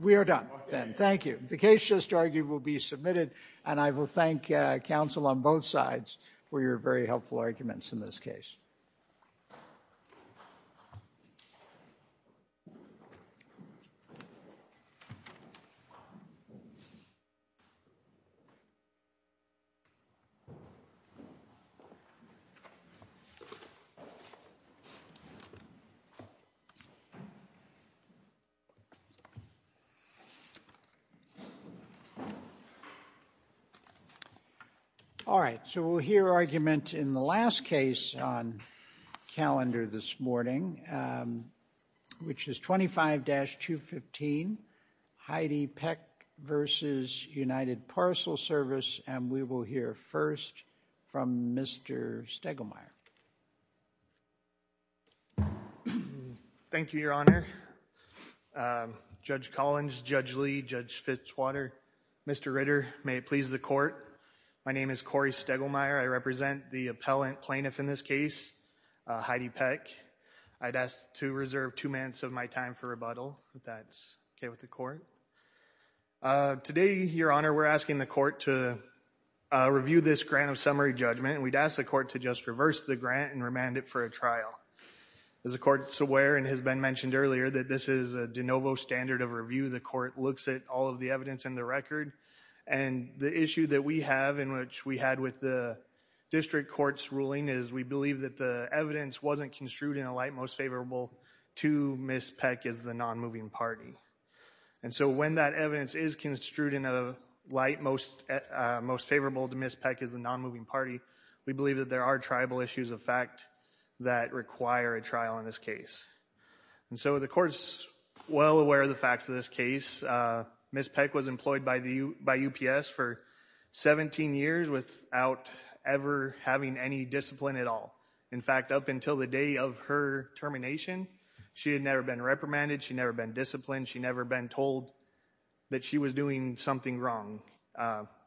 We are done, then. Thank you. The case just argued will be submitted, and I will thank counsel on both sides for your very helpful arguments in this case. All right, so we'll hear argument in the last case on calendar this morning, which is 25-215, Heidi Peck v. United Parcel Service, and we will hear first from Mr. Stegelmeyer. Thank you, Your Honor. Judge Collins, Judge Lee, Judge Fitzwater, Mr. Ritter, may it please the Court. My name is Corey Stegelmeyer. I represent the appellant plaintiff in this case, Heidi Peck. I'd ask to reserve two minutes of my time for rebuttal, if that's okay with the Court. Today, Your Honor, we're asking the Court to review this grant of summary judgment, and we'd ask the Court to just reverse the grant and remand it for a trial. As the Court's aware and has been mentioned earlier, that this is a de novo standard of review. The Court looks at all of the evidence in the record, and the issue that we have in which we had with the district court's ruling is we believe that the evidence wasn't construed in a light most favorable to Ms. Peck as the nonmoving party. And so when that evidence is construed in a light most favorable to Ms. Peck as the nonmoving party, we believe that there are tribal issues of fact that require a trial in this case. And so the Court's well aware of the facts of this case. Ms. Peck was employed by UPS for 17 years without ever having any discipline at all. In fact, up until the day of her termination, she had never been reprimanded, she had never been disciplined, she had never been told that she was doing something wrong.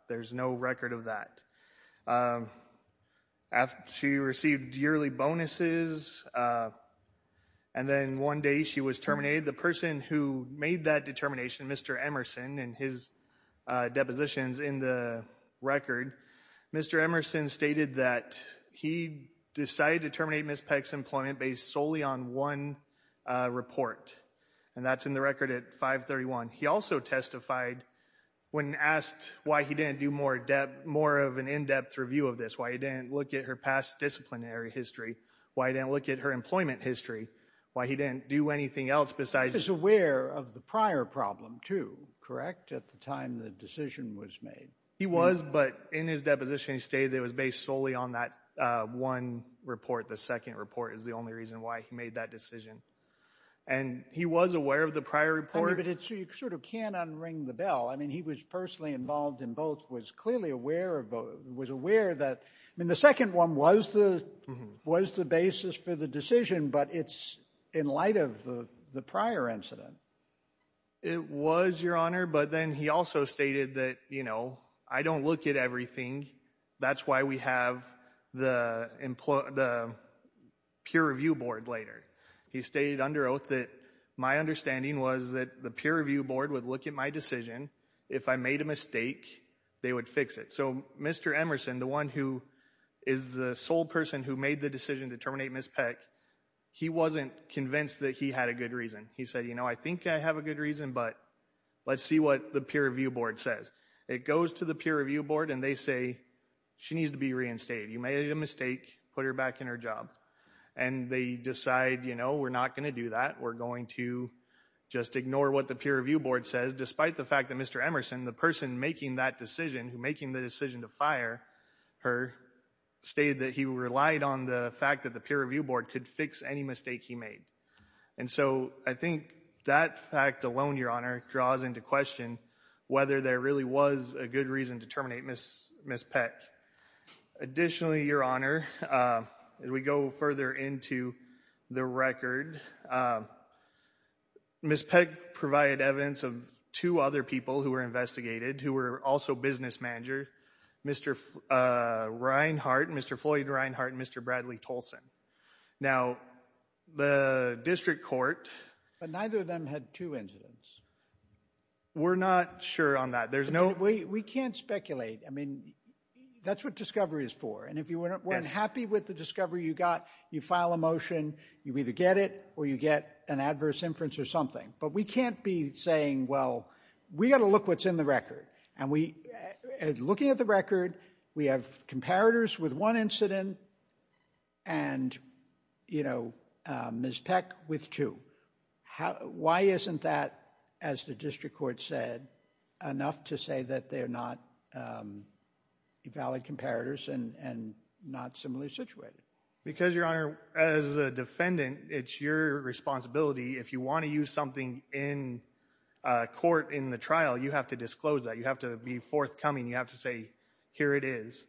There's no record of that. She received yearly bonuses, and then one day she was terminated. The person who made that determination, Mr. Emerson, in his depositions in the record, Mr. Emerson stated that he decided to terminate Ms. Peck's employment based solely on one report, and that's in the record at 531. He also testified when asked why he didn't do more of an in-depth review of this, why he didn't look at her past disciplinary history, why he didn't look at her employment history, why he didn't do anything else besides... He was aware of the prior problem too, correct, at the time the decision was made? He was, but in his deposition he stated it was based solely on that one report, the second report is the only reason why he made that decision, and he was aware of the prior report. But you sort of can't unring the bell. I mean, he was personally involved in both, was clearly aware of both, was aware that... I mean, the second one was the basis for the decision, but it's in light of the prior incident. It was, Your Honor, but then he also stated that, you know, I don't look at everything, that's why we have the peer review board later. He stated under oath that, my understanding was that the peer review board would look at my decision, if I made a mistake, they would fix it. So Mr. Emerson, the one who is the sole person who made the decision to terminate Ms. Peck, he wasn't convinced that he had a good reason. He said, you know, I think I have a good reason, but let's see what the peer review board says. It goes to the peer review board and they say, she needs to be reinstated, you made a mistake, put her back in her job. And they decide, you know, we're not going to do that, we're going to just ignore what the peer review board says, despite the fact that Mr. Emerson, the person making that decision, making the decision to fire her, stated that he relied on the fact that the peer review board could fix any mistake he made. And so I think that fact alone, Your Honor, draws into question whether there really was a good reason to terminate Ms. Peck. Additionally, Your Honor, as we go further into the record, Ms. Peck provided evidence of two other people who were investigated, who were also business managers, Mr. Reinhart, Mr. Floyd Reinhart, and Mr. Bradley Tolson. Now, the district court, but neither of them had two incidents. We're not sure on that. There's no... We can't speculate. I mean, that's what discovery is for. And if you weren't happy with the discovery you got, you file a motion, you either get it or you get an adverse inference or something. But we can't be saying, well, we got to look what's in the record. And we, looking at the record, we have comparators with one incident and, you know, Ms. Peck with two. Why is that? Why isn't that, as the district court said, enough to say that they're not valid comparators and not similarly situated? Because Your Honor, as a defendant, it's your responsibility. If you want to use something in court in the trial, you have to disclose that. You have to be forthcoming. You have to say, here it is.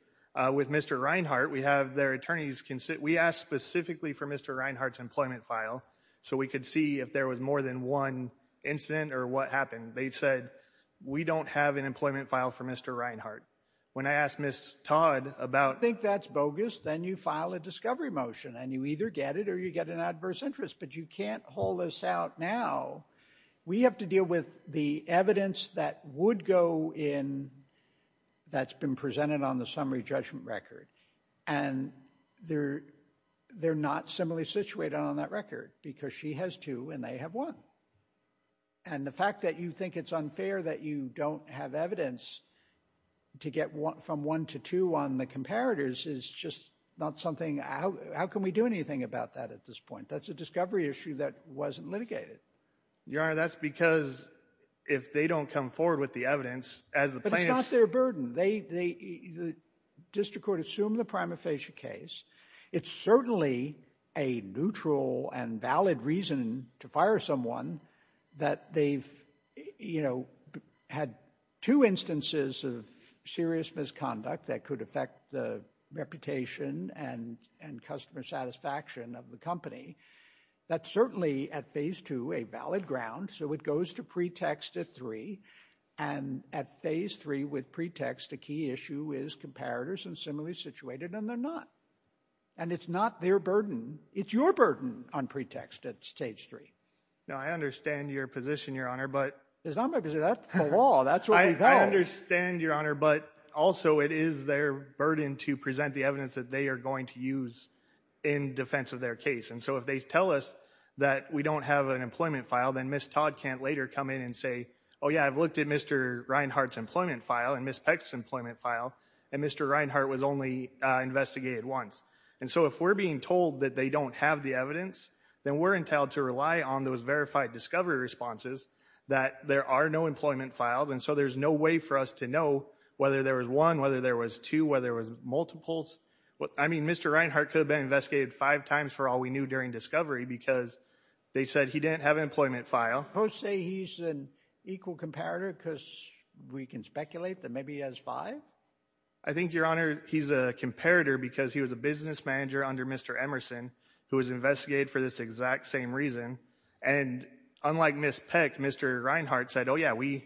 With Mr. Reinhart, we have their attorneys... We asked specifically for Mr. Reinhart's employment file so we could see if there was more than one incident or what happened. They said, we don't have an employment file for Mr. Reinhart. When I asked Ms. Todd about... If you think that's bogus, then you file a discovery motion and you either get it or you get an adverse interest. But you can't hold this out now. We have to deal with the evidence that would go in that's been presented on the summary judgment record. And they're not similarly situated on that record because she has two and they have one. And the fact that you think it's unfair that you don't have evidence to get from one to two on the comparators is just not something... How can we do anything about that at this point? That's a discovery issue that wasn't litigated. Your Honor, that's because if they don't come forward with the evidence, as the plaintiffs... It's certainly a neutral and valid reason to fire someone that they've, you know, had two instances of serious misconduct that could affect the reputation and customer satisfaction of the company. That's certainly, at phase two, a valid ground. So it goes to pretext at three. And at phase three with pretext, a key issue is comparators and similarly situated and they're not. And it's not their burden. It's your burden on pretext at stage three. No, I understand your position, Your Honor, but... It's not my position. That's the law. That's what we've held. I understand, Your Honor, but also it is their burden to present the evidence that they are going to use in defense of their case. And so if they tell us that we don't have an employment file, then Ms. Todd can't later come in and say, oh yeah, I've looked at Mr. Reinhart's And so if we're being told that they don't have the evidence, then we're entitled to rely on those verified discovery responses that there are no employment files. And so there's no way for us to know whether there was one, whether there was two, whether there was multiples. I mean, Mr. Reinhart could have been investigated five times for all we knew during discovery because they said he didn't have an employment file. Supposed to say he's an equal comparator because we can speculate that maybe he has five? I think, Your Honor, he's a comparator because he was a business manager under Mr. Emerson who was investigated for this exact same reason. And unlike Ms. Peck, Mr. Reinhart said, oh yeah, we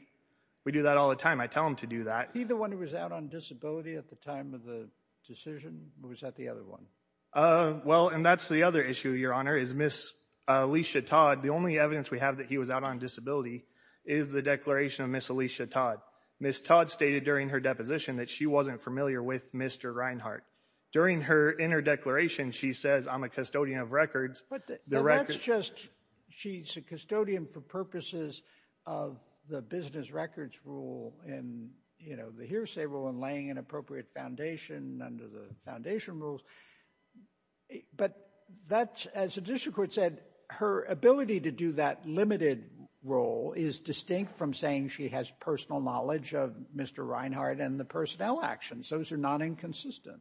do that all the time. I tell him to do that. He's the one who was out on disability at the time of the decision? Or was that the other one? Uh, well, and that's the other issue, Your Honor, is Ms. Alicia Todd. The only evidence we have that he was out on disability is the declaration of Ms. Alicia Todd. Ms. Todd stated during her deposition that she wasn't familiar with Mr. Reinhart. During her inter-declaration, she says, I'm a custodian of records, but the records... But that's just, she's a custodian for purposes of the business records rule and, you know, the hearsay rule and laying an appropriate foundation under the foundation rules. But that's, as the district court said, her ability to do that limited role is distinct from saying she has personal knowledge of Mr. Reinhart and the personnel actions. Those are not inconsistent.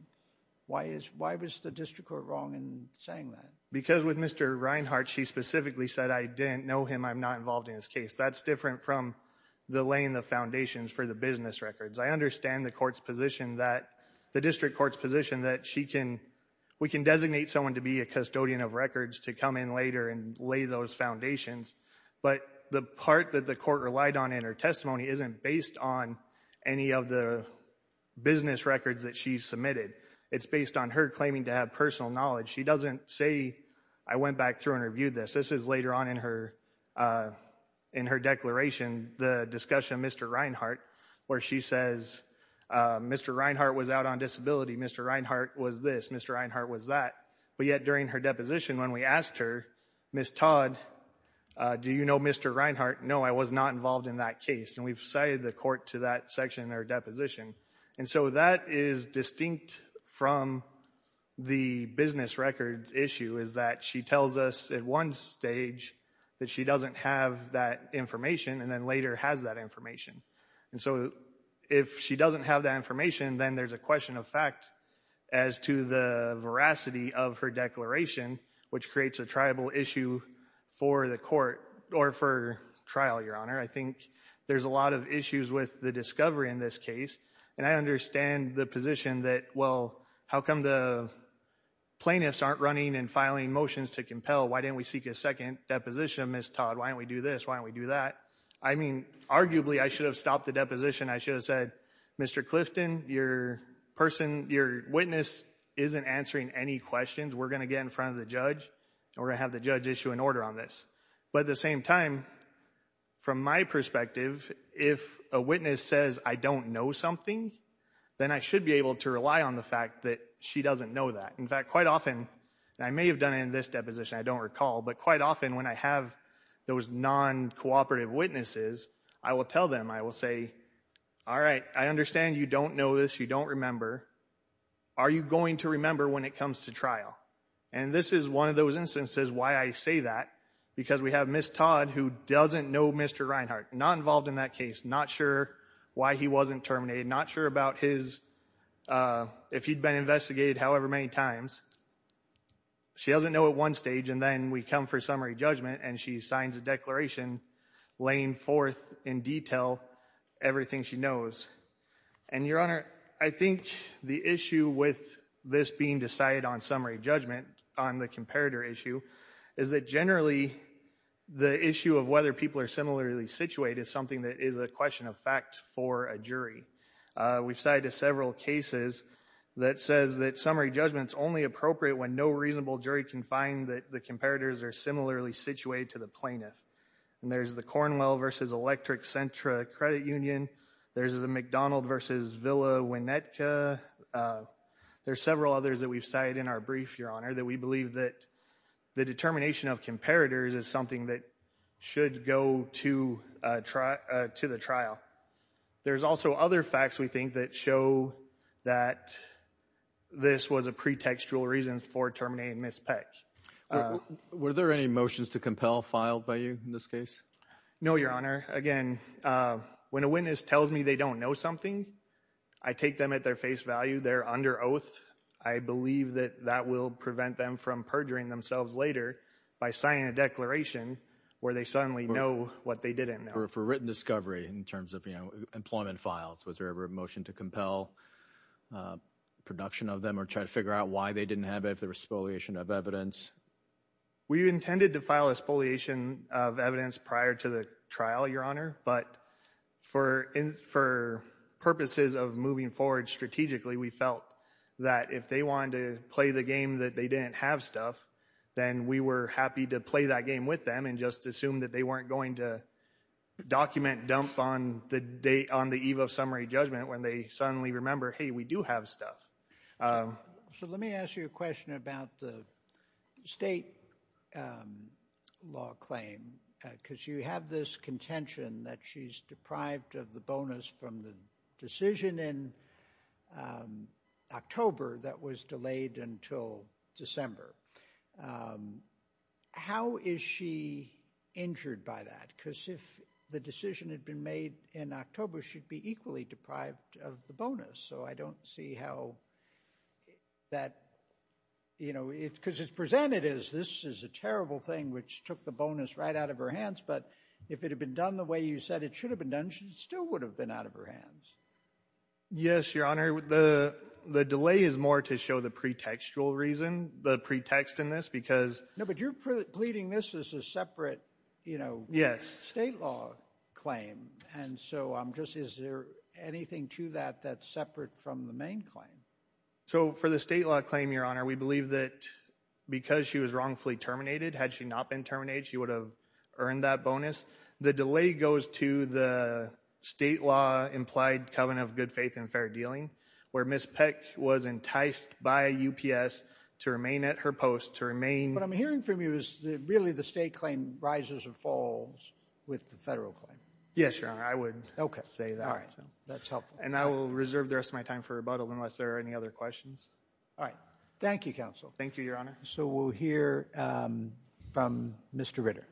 Why is, why was the district court wrong in saying that? Because with Mr. Reinhart, she specifically said, I didn't know him. I'm not involved in his case. That's different from the laying the foundations for the business records. I understand the court's position that, the district court's position that she can, we can designate someone to be a custodian of records to come in later and lay those foundations. But the part that the court relied on in her testimony isn't based on any of the business records that she submitted. It's based on her claiming to have personal knowledge. She doesn't say, I went back through and reviewed this. This is later on in her, in her declaration, the discussion of Mr. Reinhart, where she says, Mr. Reinhart was out on disability. Mr. Reinhart was this. Mr. Reinhart was that. But yet during her deposition, when we asked her, Ms. Todd, do you know Mr. Reinhart? No, I was not involved in that case. And we've cited the court to that section in their deposition. And so that is distinct from the business records issue is that she tells us at one stage that she doesn't have that information and then later has that information. And so if she doesn't have that information, then there's a question of fact as to the veracity of her declaration, which creates a tribal issue for the court or for trial, Your Honor. I think there's a lot of issues with the discovery in this case. And I understand the position that, well, how come the plaintiffs aren't running and filing motions to compel? Why didn't we seek a second deposition of Ms. Todd? Why don't we do this? Why don't we do that? I mean, arguably I should have stopped the deposition. I should have said, Mr. Clifton, your witness isn't answering any questions. We're going to get in front of the judge and we're going to have the judge issue an order on this. But at the same time, from my perspective, if a witness says I don't know something, then I should be able to rely on the fact that she doesn't know that. In fact, quite often, and I may have done it in this deposition, I don't recall, but quite often when I have those non-cooperative witnesses, I will tell them, I will say, all right, I understand you don't know this, you don't remember. Are you going to remember when it comes to trial? And this is one of those instances why I say that, because we have Ms. Todd who doesn't know Mr. Reinhart, not involved in that case, not sure why he wasn't terminated, not sure about his, if he'd been investigated however many times. She doesn't know at one stage and then we come for summary judgment and she signs a declaration laying forth in detail everything she knows. And, Your Honor, I think the issue with this being decided on summary judgment, on the comparator issue, is that generally the issue of whether people are similarly situated is something that is a question of fact for a jury. We've cited several cases that says that summary judgment's only appropriate when no reasonable jury can find that the comparators are similarly situated to the plaintiff. And there's the Cornwell versus Electric Centra credit union. There's the McDonald versus Villa Winnetka. There's several others that we've cited in our brief, Your Honor, that we believe that the determination of comparators is something that should go to the trial. There's also other facts we think that show that this was a pretextual reason for terminating Ms. Peck. Were there any motions to compel filed by you in this case? No, Your Honor. Again, when a witness tells me they don't know something, I take them at their face value. They're under oath. I believe that that will prevent them from perjuring themselves later by signing a declaration where they suddenly know what they didn't know. For written discovery in terms of employment files, was there ever a motion to compel production of them or try to figure out why they didn't have it if there was spoliation of evidence? We intended to file a spoliation of evidence prior to the trial, Your Honor, but for purposes of moving forward strategically, we felt that if they wanted to play the game that they didn't have stuff, then we were happy to play that game with them and just assume that they weren't going to document dump on the date on the eve of summary judgment when they suddenly remember, hey, we do have stuff. So let me ask you a question about the state law claim, because you have this contention that she's deprived of the bonus from the decision in October that was delayed until December. How is she injured by that? Because if the decision had been made in October, she'd be equally deprived of the bonus. So I don't see how that, you know, because it's presented as this is a terrible thing, which took the bonus right out of her hands. But if it had been done the way you said it should have been done, she still would have been out of her hands. Yes, Your Honor, the delay is more to show the pretextual reason, the pretext in this, because... No, but you're pleading this as a separate, you know, state law claim. And so I'm just, is there anything to that that's separate from the main claim? So for the state law claim, Your Honor, we believe that because she was wrongfully terminated, had she not been terminated, she would have earned that bonus. The delay goes to the state law implied covenant of good faith and fair dealing, where Ms. Peck was enticed by UPS to remain at her post, to remain... What I'm hearing from you is really the state claim rises or falls with the federal claim. Yes, Your Honor, I would say that. Okay, all right, that's helpful. And I will reserve the rest of my time for rebuttal unless there are any other questions. All right, thank you, Counsel. Thank you, Your Honor. So we'll hear from Mr. Ritter.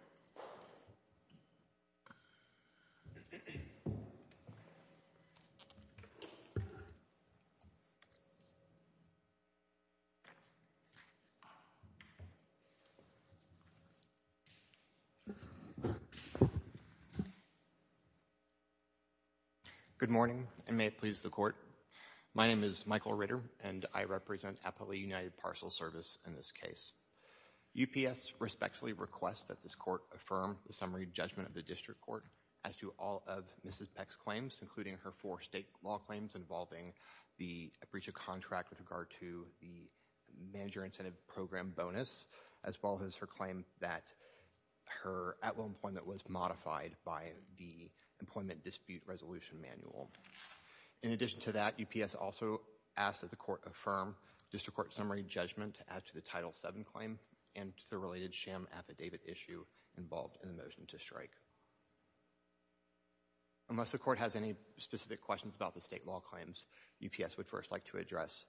Good morning, and may it please the Court. My name is Michael Ritter, and I represent Appalachian United Parcel Service in this case. UPS respectfully requests that this Court affirm the summary judgment of the District Court as to all of Mrs. Peck's claims, including her four state law claims involving the breach of contract with regard to the Manager Incentive Program bonus, as well as her claim that her at-will employment was modified by the Employment Dispute Resolution Manual. In addition to that, UPS also asks that the Court affirm District Court summary judgment as to the Title VII claim and to the related sham affidavit issue involved in the motion to strike. Unless the Court has any specific questions about the state law claims, UPS would first like to address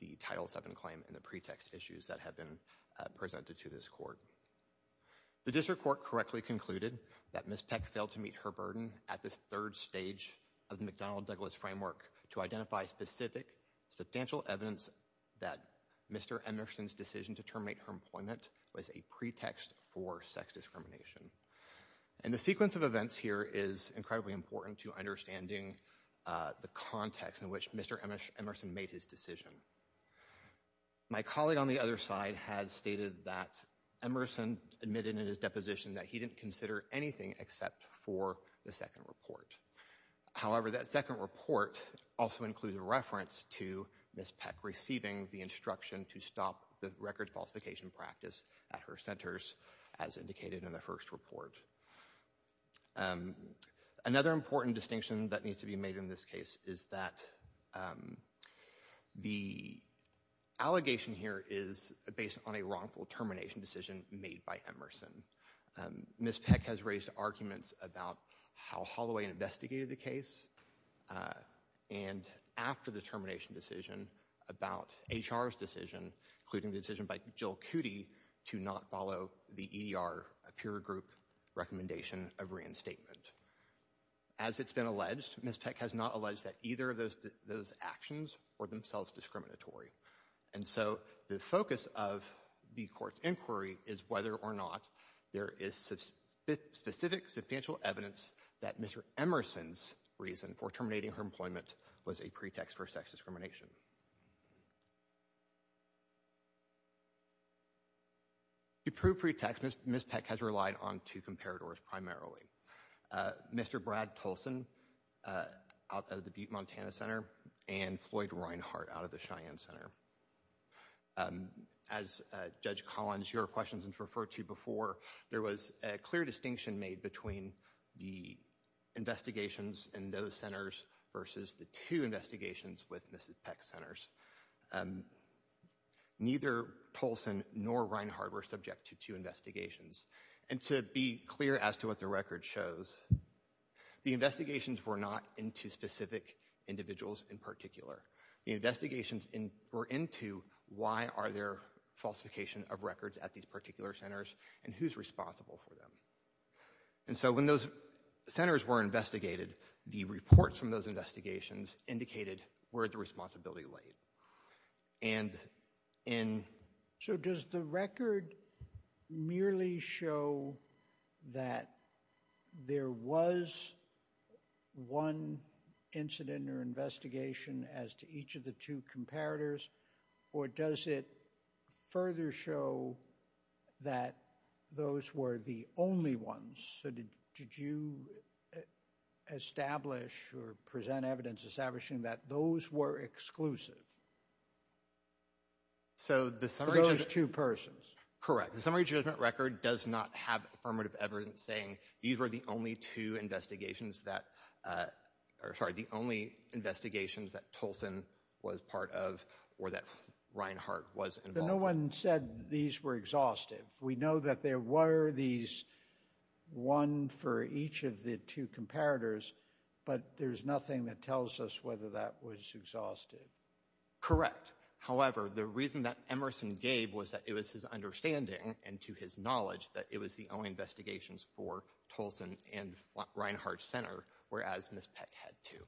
the Title VII claim and the pretext issues that have been presented to this Court. The District Court correctly concluded that Ms. Peck failed to meet her burden at this third stage of the McDonnell-Douglas framework to identify specific substantial evidence that Mr. Emerson's decision to terminate her employment was a pretext for sex discrimination. And the sequence of events here is incredibly important to understanding the context in which Mr. Emerson made his decision. My colleague on the other side had stated that Emerson admitted in his deposition that he didn't consider anything except for the second report. However, that second report also includes a reference to Ms. Peck receiving the instruction to stop the record falsification practice at her centers as indicated in the first report. Another important distinction that needs to be made in this case is that the allegation here is based on a wrongful termination decision made by Emerson. Ms. Peck has raised arguments about how Holloway investigated the case and after the termination decision about HR's decision, including the decision by Jill Cootey to not follow the EER peer group recommendation of reinstatement. As it's been alleged, Ms. Peck has not alleged that either of those actions were themselves discriminatory. And so, the focus of the court's inquiry is whether or not there is specific substantial evidence that Mr. Emerson's reason for terminating her employment was a pretext for sex discrimination. To prove pretext, Ms. Peck has relied on two comparators primarily. Mr. Brad Tolson out of the Butte, Montana Center and Floyd Reinhardt out of the Cheyenne Center. As Judge Collins, your questions have referred to before, there was a clear distinction made between the investigations in those centers versus the two investigations with Ms. Peck's centers. Neither Tolson nor Reinhardt were subject to two investigations. And to be clear as to what the record shows, the investigations were not into specific individuals in particular. The investigations were into why are there falsification of records at these particular centers and who's responsible for them. And so, when those centers were investigated, the reports from those investigations indicated where the responsibility laid. And in... So does the record merely show that there was one incident or investigation as to each of the two comparators or does it further show that those were the only ones? So did you establish or present evidence establishing that those were exclusive? So the summary... For those two persons? Correct. The summary judgment record does not have affirmative evidence saying these were the only two investigations that, or sorry, the only investigations that Tolson was part of or that Reinhardt was involved in. But no one said these were exhaustive. We know that there were these, one for each of the two comparators, but there's nothing that tells us whether that was exhaustive. Correct. However, the reason that Emerson gave was that it was his understanding and to his knowledge that it was the only investigations for Tolson and Reinhardt Center, whereas Ms. Peck had two.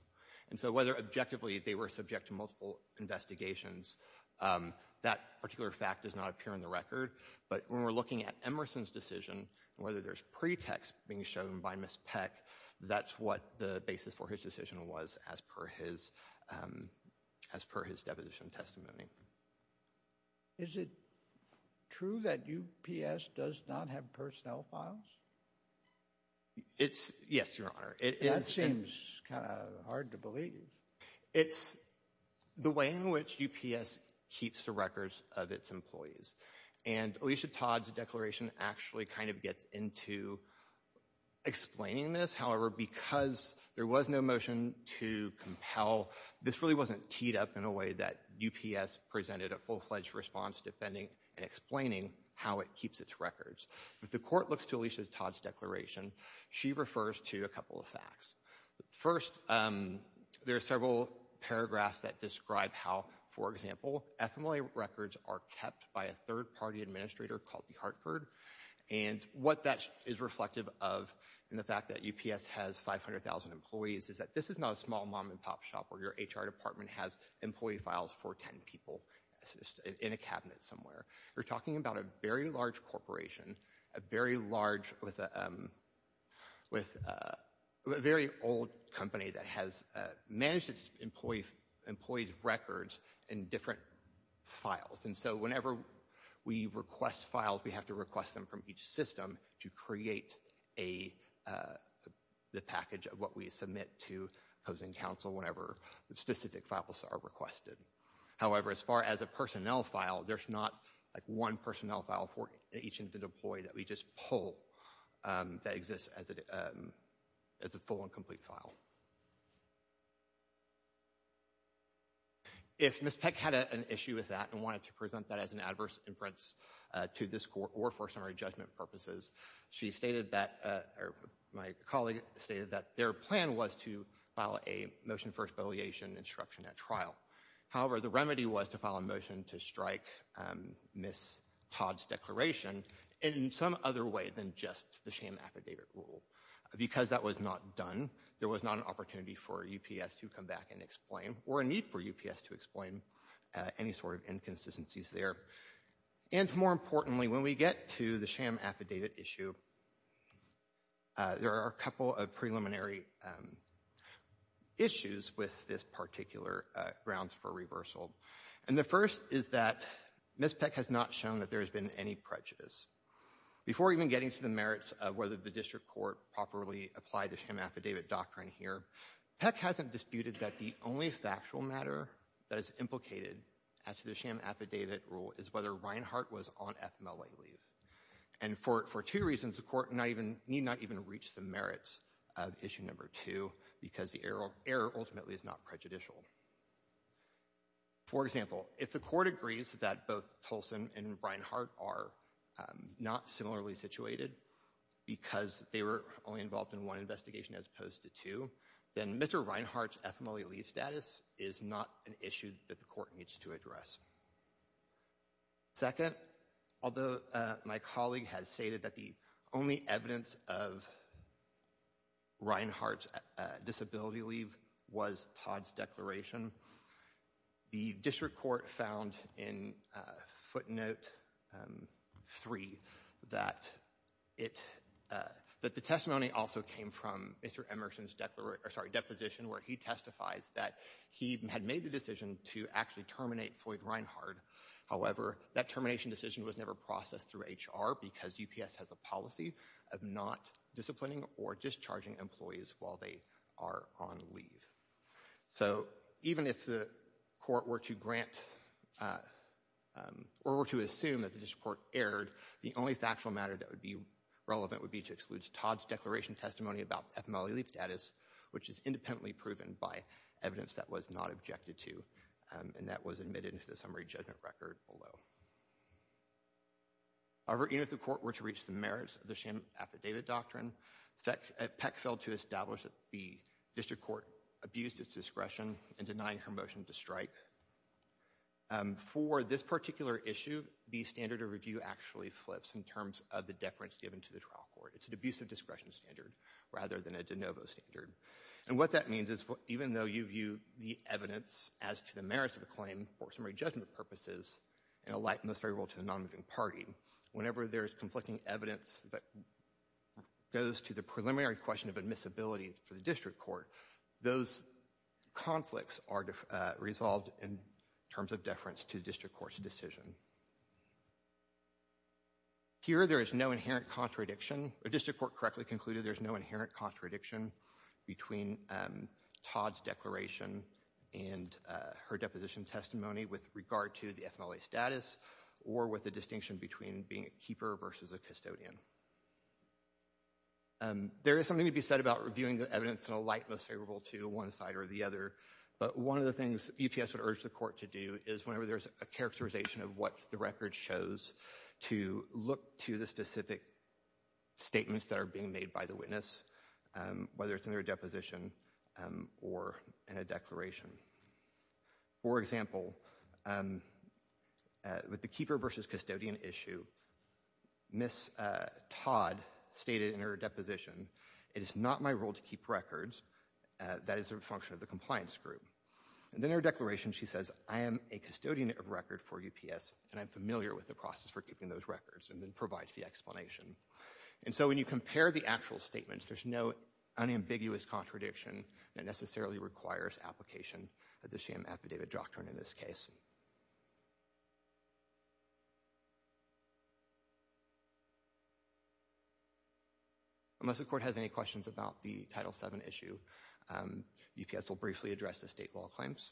And so, whether objectively they were subject to multiple investigations, that particular fact does not appear in the record. But when we're looking at Emerson's decision, whether there's pretext being shown by Ms. Peck, that's what the basis for his decision was as per his, as per his deposition testimony. Is it true that UPS does not have personnel files? It's, yes, Your Honor. That seems kind of hard to believe. It's the way in which UPS keeps the records of its employees. And Alicia Todd's declaration actually kind of gets into explaining this. However, because there was no motion to compel, this really wasn't teed up in a way that UPS presented a full-fledged response defending and explaining how it keeps its records. If the court looks to Alicia Todd's declaration, she refers to a couple of facts. First, there are several paragraphs that describe how, for example, FMLA records are kept by a third-party administrator called the Hartford. And what that is reflective of in the fact that UPS has 500,000 employees is that this is not a small mom-and-pop shop where your HR department has employee files for 10 people in a cabinet somewhere. We're talking about a very large corporation, a very large, with a very old company that has managed its employees' records in different files. And so whenever we request files, we have to request them from each system to create the package of what we submit to Housing Council whenever specific files are requested. However, as far as a personnel file, there's not one personnel file for each employee that we just pull that exists as a full and complete file. If Ms. Peck had an issue with that and wanted to present that as an adverse inference to this court or for summary judgment purposes, she stated that, or my colleague stated that their plan was to file a motion for expelliation and disruption at trial. However, the remedy was to file a motion to strike Ms. Todd's declaration in some other way than just the sham affidavit rule. Because that was not done, there was not an opportunity for UPS to come back and explain, or a need for UPS to explain, any sort of inconsistencies there. And more importantly, when we get to the sham affidavit issue, there are a couple of preliminary issues with this particular grounds for reversal. And the first is that Ms. Peck has not shown that there has been any prejudice. Before even getting to the merits of whether the district court properly applied the sham affidavit doctrine here, Peck hasn't disputed that the only factual matter that is implicated as to the sham affidavit rule is whether Reinhart was on FMLA leave. And for two reasons, the court need not even reach the merits of issue number two, because the error ultimately is not prejudicial. For example, if the court agrees that both Tolson and Reinhart are not similarly situated because they were only involved in one investigation as opposed to two, then Mr. Reinhart's FMLA leave status is not an issue that the court needs to address. Second, although my colleague has stated that the only evidence of Reinhart's disability leave was Todd's declaration, the district court found in footnote three that the testimony also came from Mr. Emerson's deposition where he testifies that he had made the decision to actually terminate Floyd Reinhart. However, that termination decision was never processed through HR because UPS has a policy of not disciplining or discharging employees while they are on leave. So even if the court were to grant or were to assume that the district court erred, the only factual matter that would be relevant would be to exclude Todd's declaration testimony about FMLA leave status, which is independently proven by evidence that was not objected to and that was admitted into the summary judgment record below. However, even if the court were to reach the merits of the sham affidavit doctrine, Peck failed to establish that the district court abused its discretion in denying her motion to strike. However, for this particular issue, the standard of review actually flips in terms of the deference given to the trial court. It's an abusive discretion standard rather than a de novo standard. And what that means is even though you view the evidence as to the merits of the claim for summary judgment purposes, in a light most favorable to the non-moving party, whenever there is conflicting evidence that goes to the preliminary question of admissibility for the district court, those conflicts are resolved in terms of deference to the district court's decision. Here there is no inherent contradiction, the district court correctly concluded there's no inherent contradiction between Todd's declaration and her deposition testimony with regard to the FMLA status or with the distinction between being a keeper versus a custodian. There is something to be said about reviewing the evidence in a light most favorable to one side or the other, but one of the things UPS would urge the court to do is whenever there's a characterization of what the record shows, to look to the specific statements that are being made by the witness, whether it's in their deposition or in a declaration. For example, with the keeper versus custodian issue, Ms. Todd stated in her deposition, it is not my role to keep records, that is a function of the compliance group. And in her declaration she says, I am a custodian of record for UPS and I'm familiar with the process for keeping those records and then provides the explanation. And so when you compare the actual statements, there's no unambiguous contradiction that necessarily requires application of the sham affidavit doctrine in this case. Unless the court has any questions about the Title VII issue, UPS will briefly address the state law claims.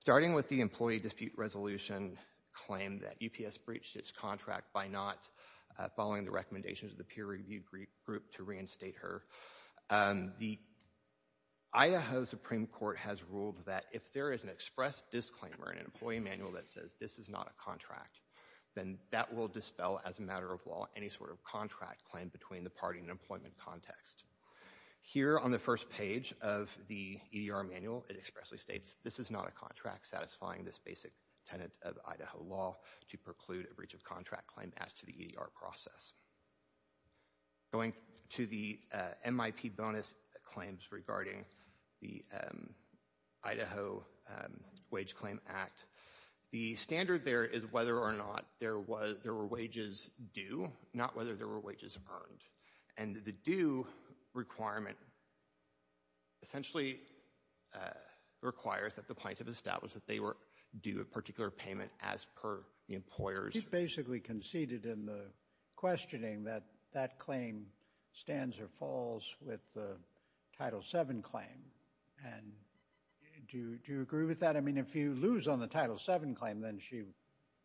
Starting with the employee dispute resolution claim that UPS breached its contract by not following the recommendations of the peer review group to reinstate her, the Idaho Supreme Court has ruled that if there is an express disclaimer in an employee manual that says this is not a contract, then that will dispel as a matter of law any sort of contract claim between the party in an employment context. Here on the first page of the EDR manual, it expressly states, this is not a contract satisfying this basic tenet of Idaho law to preclude a breach of contract claim as to the EDR process. Going to the MIP bonus claims regarding the Idaho Wage Claim Act, the standard there is whether or not there were wages due, not whether there were wages earned. And the due requirement essentially requires that the plaintiff establish that they were due a particular payment as per the employer's- She's basically conceded in the questioning that that claim stands or falls with the Title VII claim, and do you agree with that? I mean, if you lose on the Title VII claim, then she,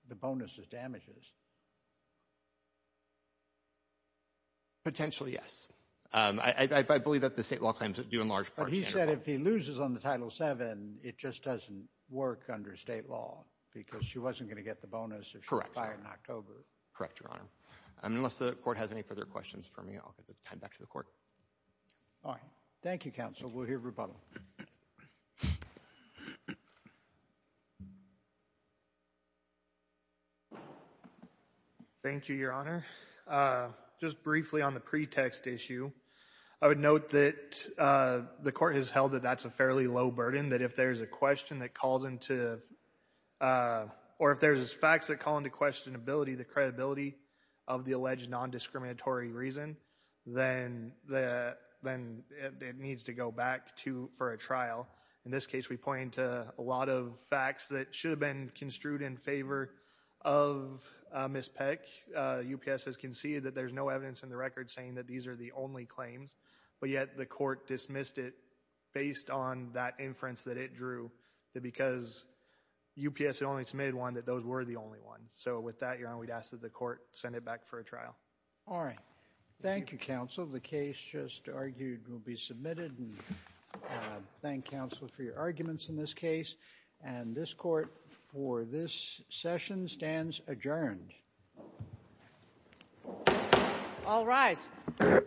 the bonus is damages. Potentially yes. I believe that the state law claims are due in large part- But he said if he loses on the Title VII, it just doesn't work under state law because she wasn't going to get the bonus if she applied in October. Correct, Your Honor. Unless the Court has any further questions for me, I'll get the time back to the Court. Thank you, Counsel. We'll hear rebuttal. Thank you, Your Honor. Just briefly on the pretext issue, I would note that the Court has held that that's a fairly low burden. That if there's a question that calls into- Or if there's facts that call into questionability the credibility of the alleged nondiscriminatory reason, then it needs to go back for a trial. In this case, we point to a lot of facts that should have been construed in favor of Ms. Peck. UPS has conceded that there's no evidence in the record saying that these are the only claims. But yet, the Court dismissed it based on that inference that it drew that because UPS had only submitted one, that those were the only ones. So with that, Your Honor, we'd ask that the Court send it back for a trial. All right. Thank you, Counsel. The case just argued will be submitted and thank Counsel for your arguments in this case. And this Court, for this session, stands adjourned. All rise. Thank you. Thank you.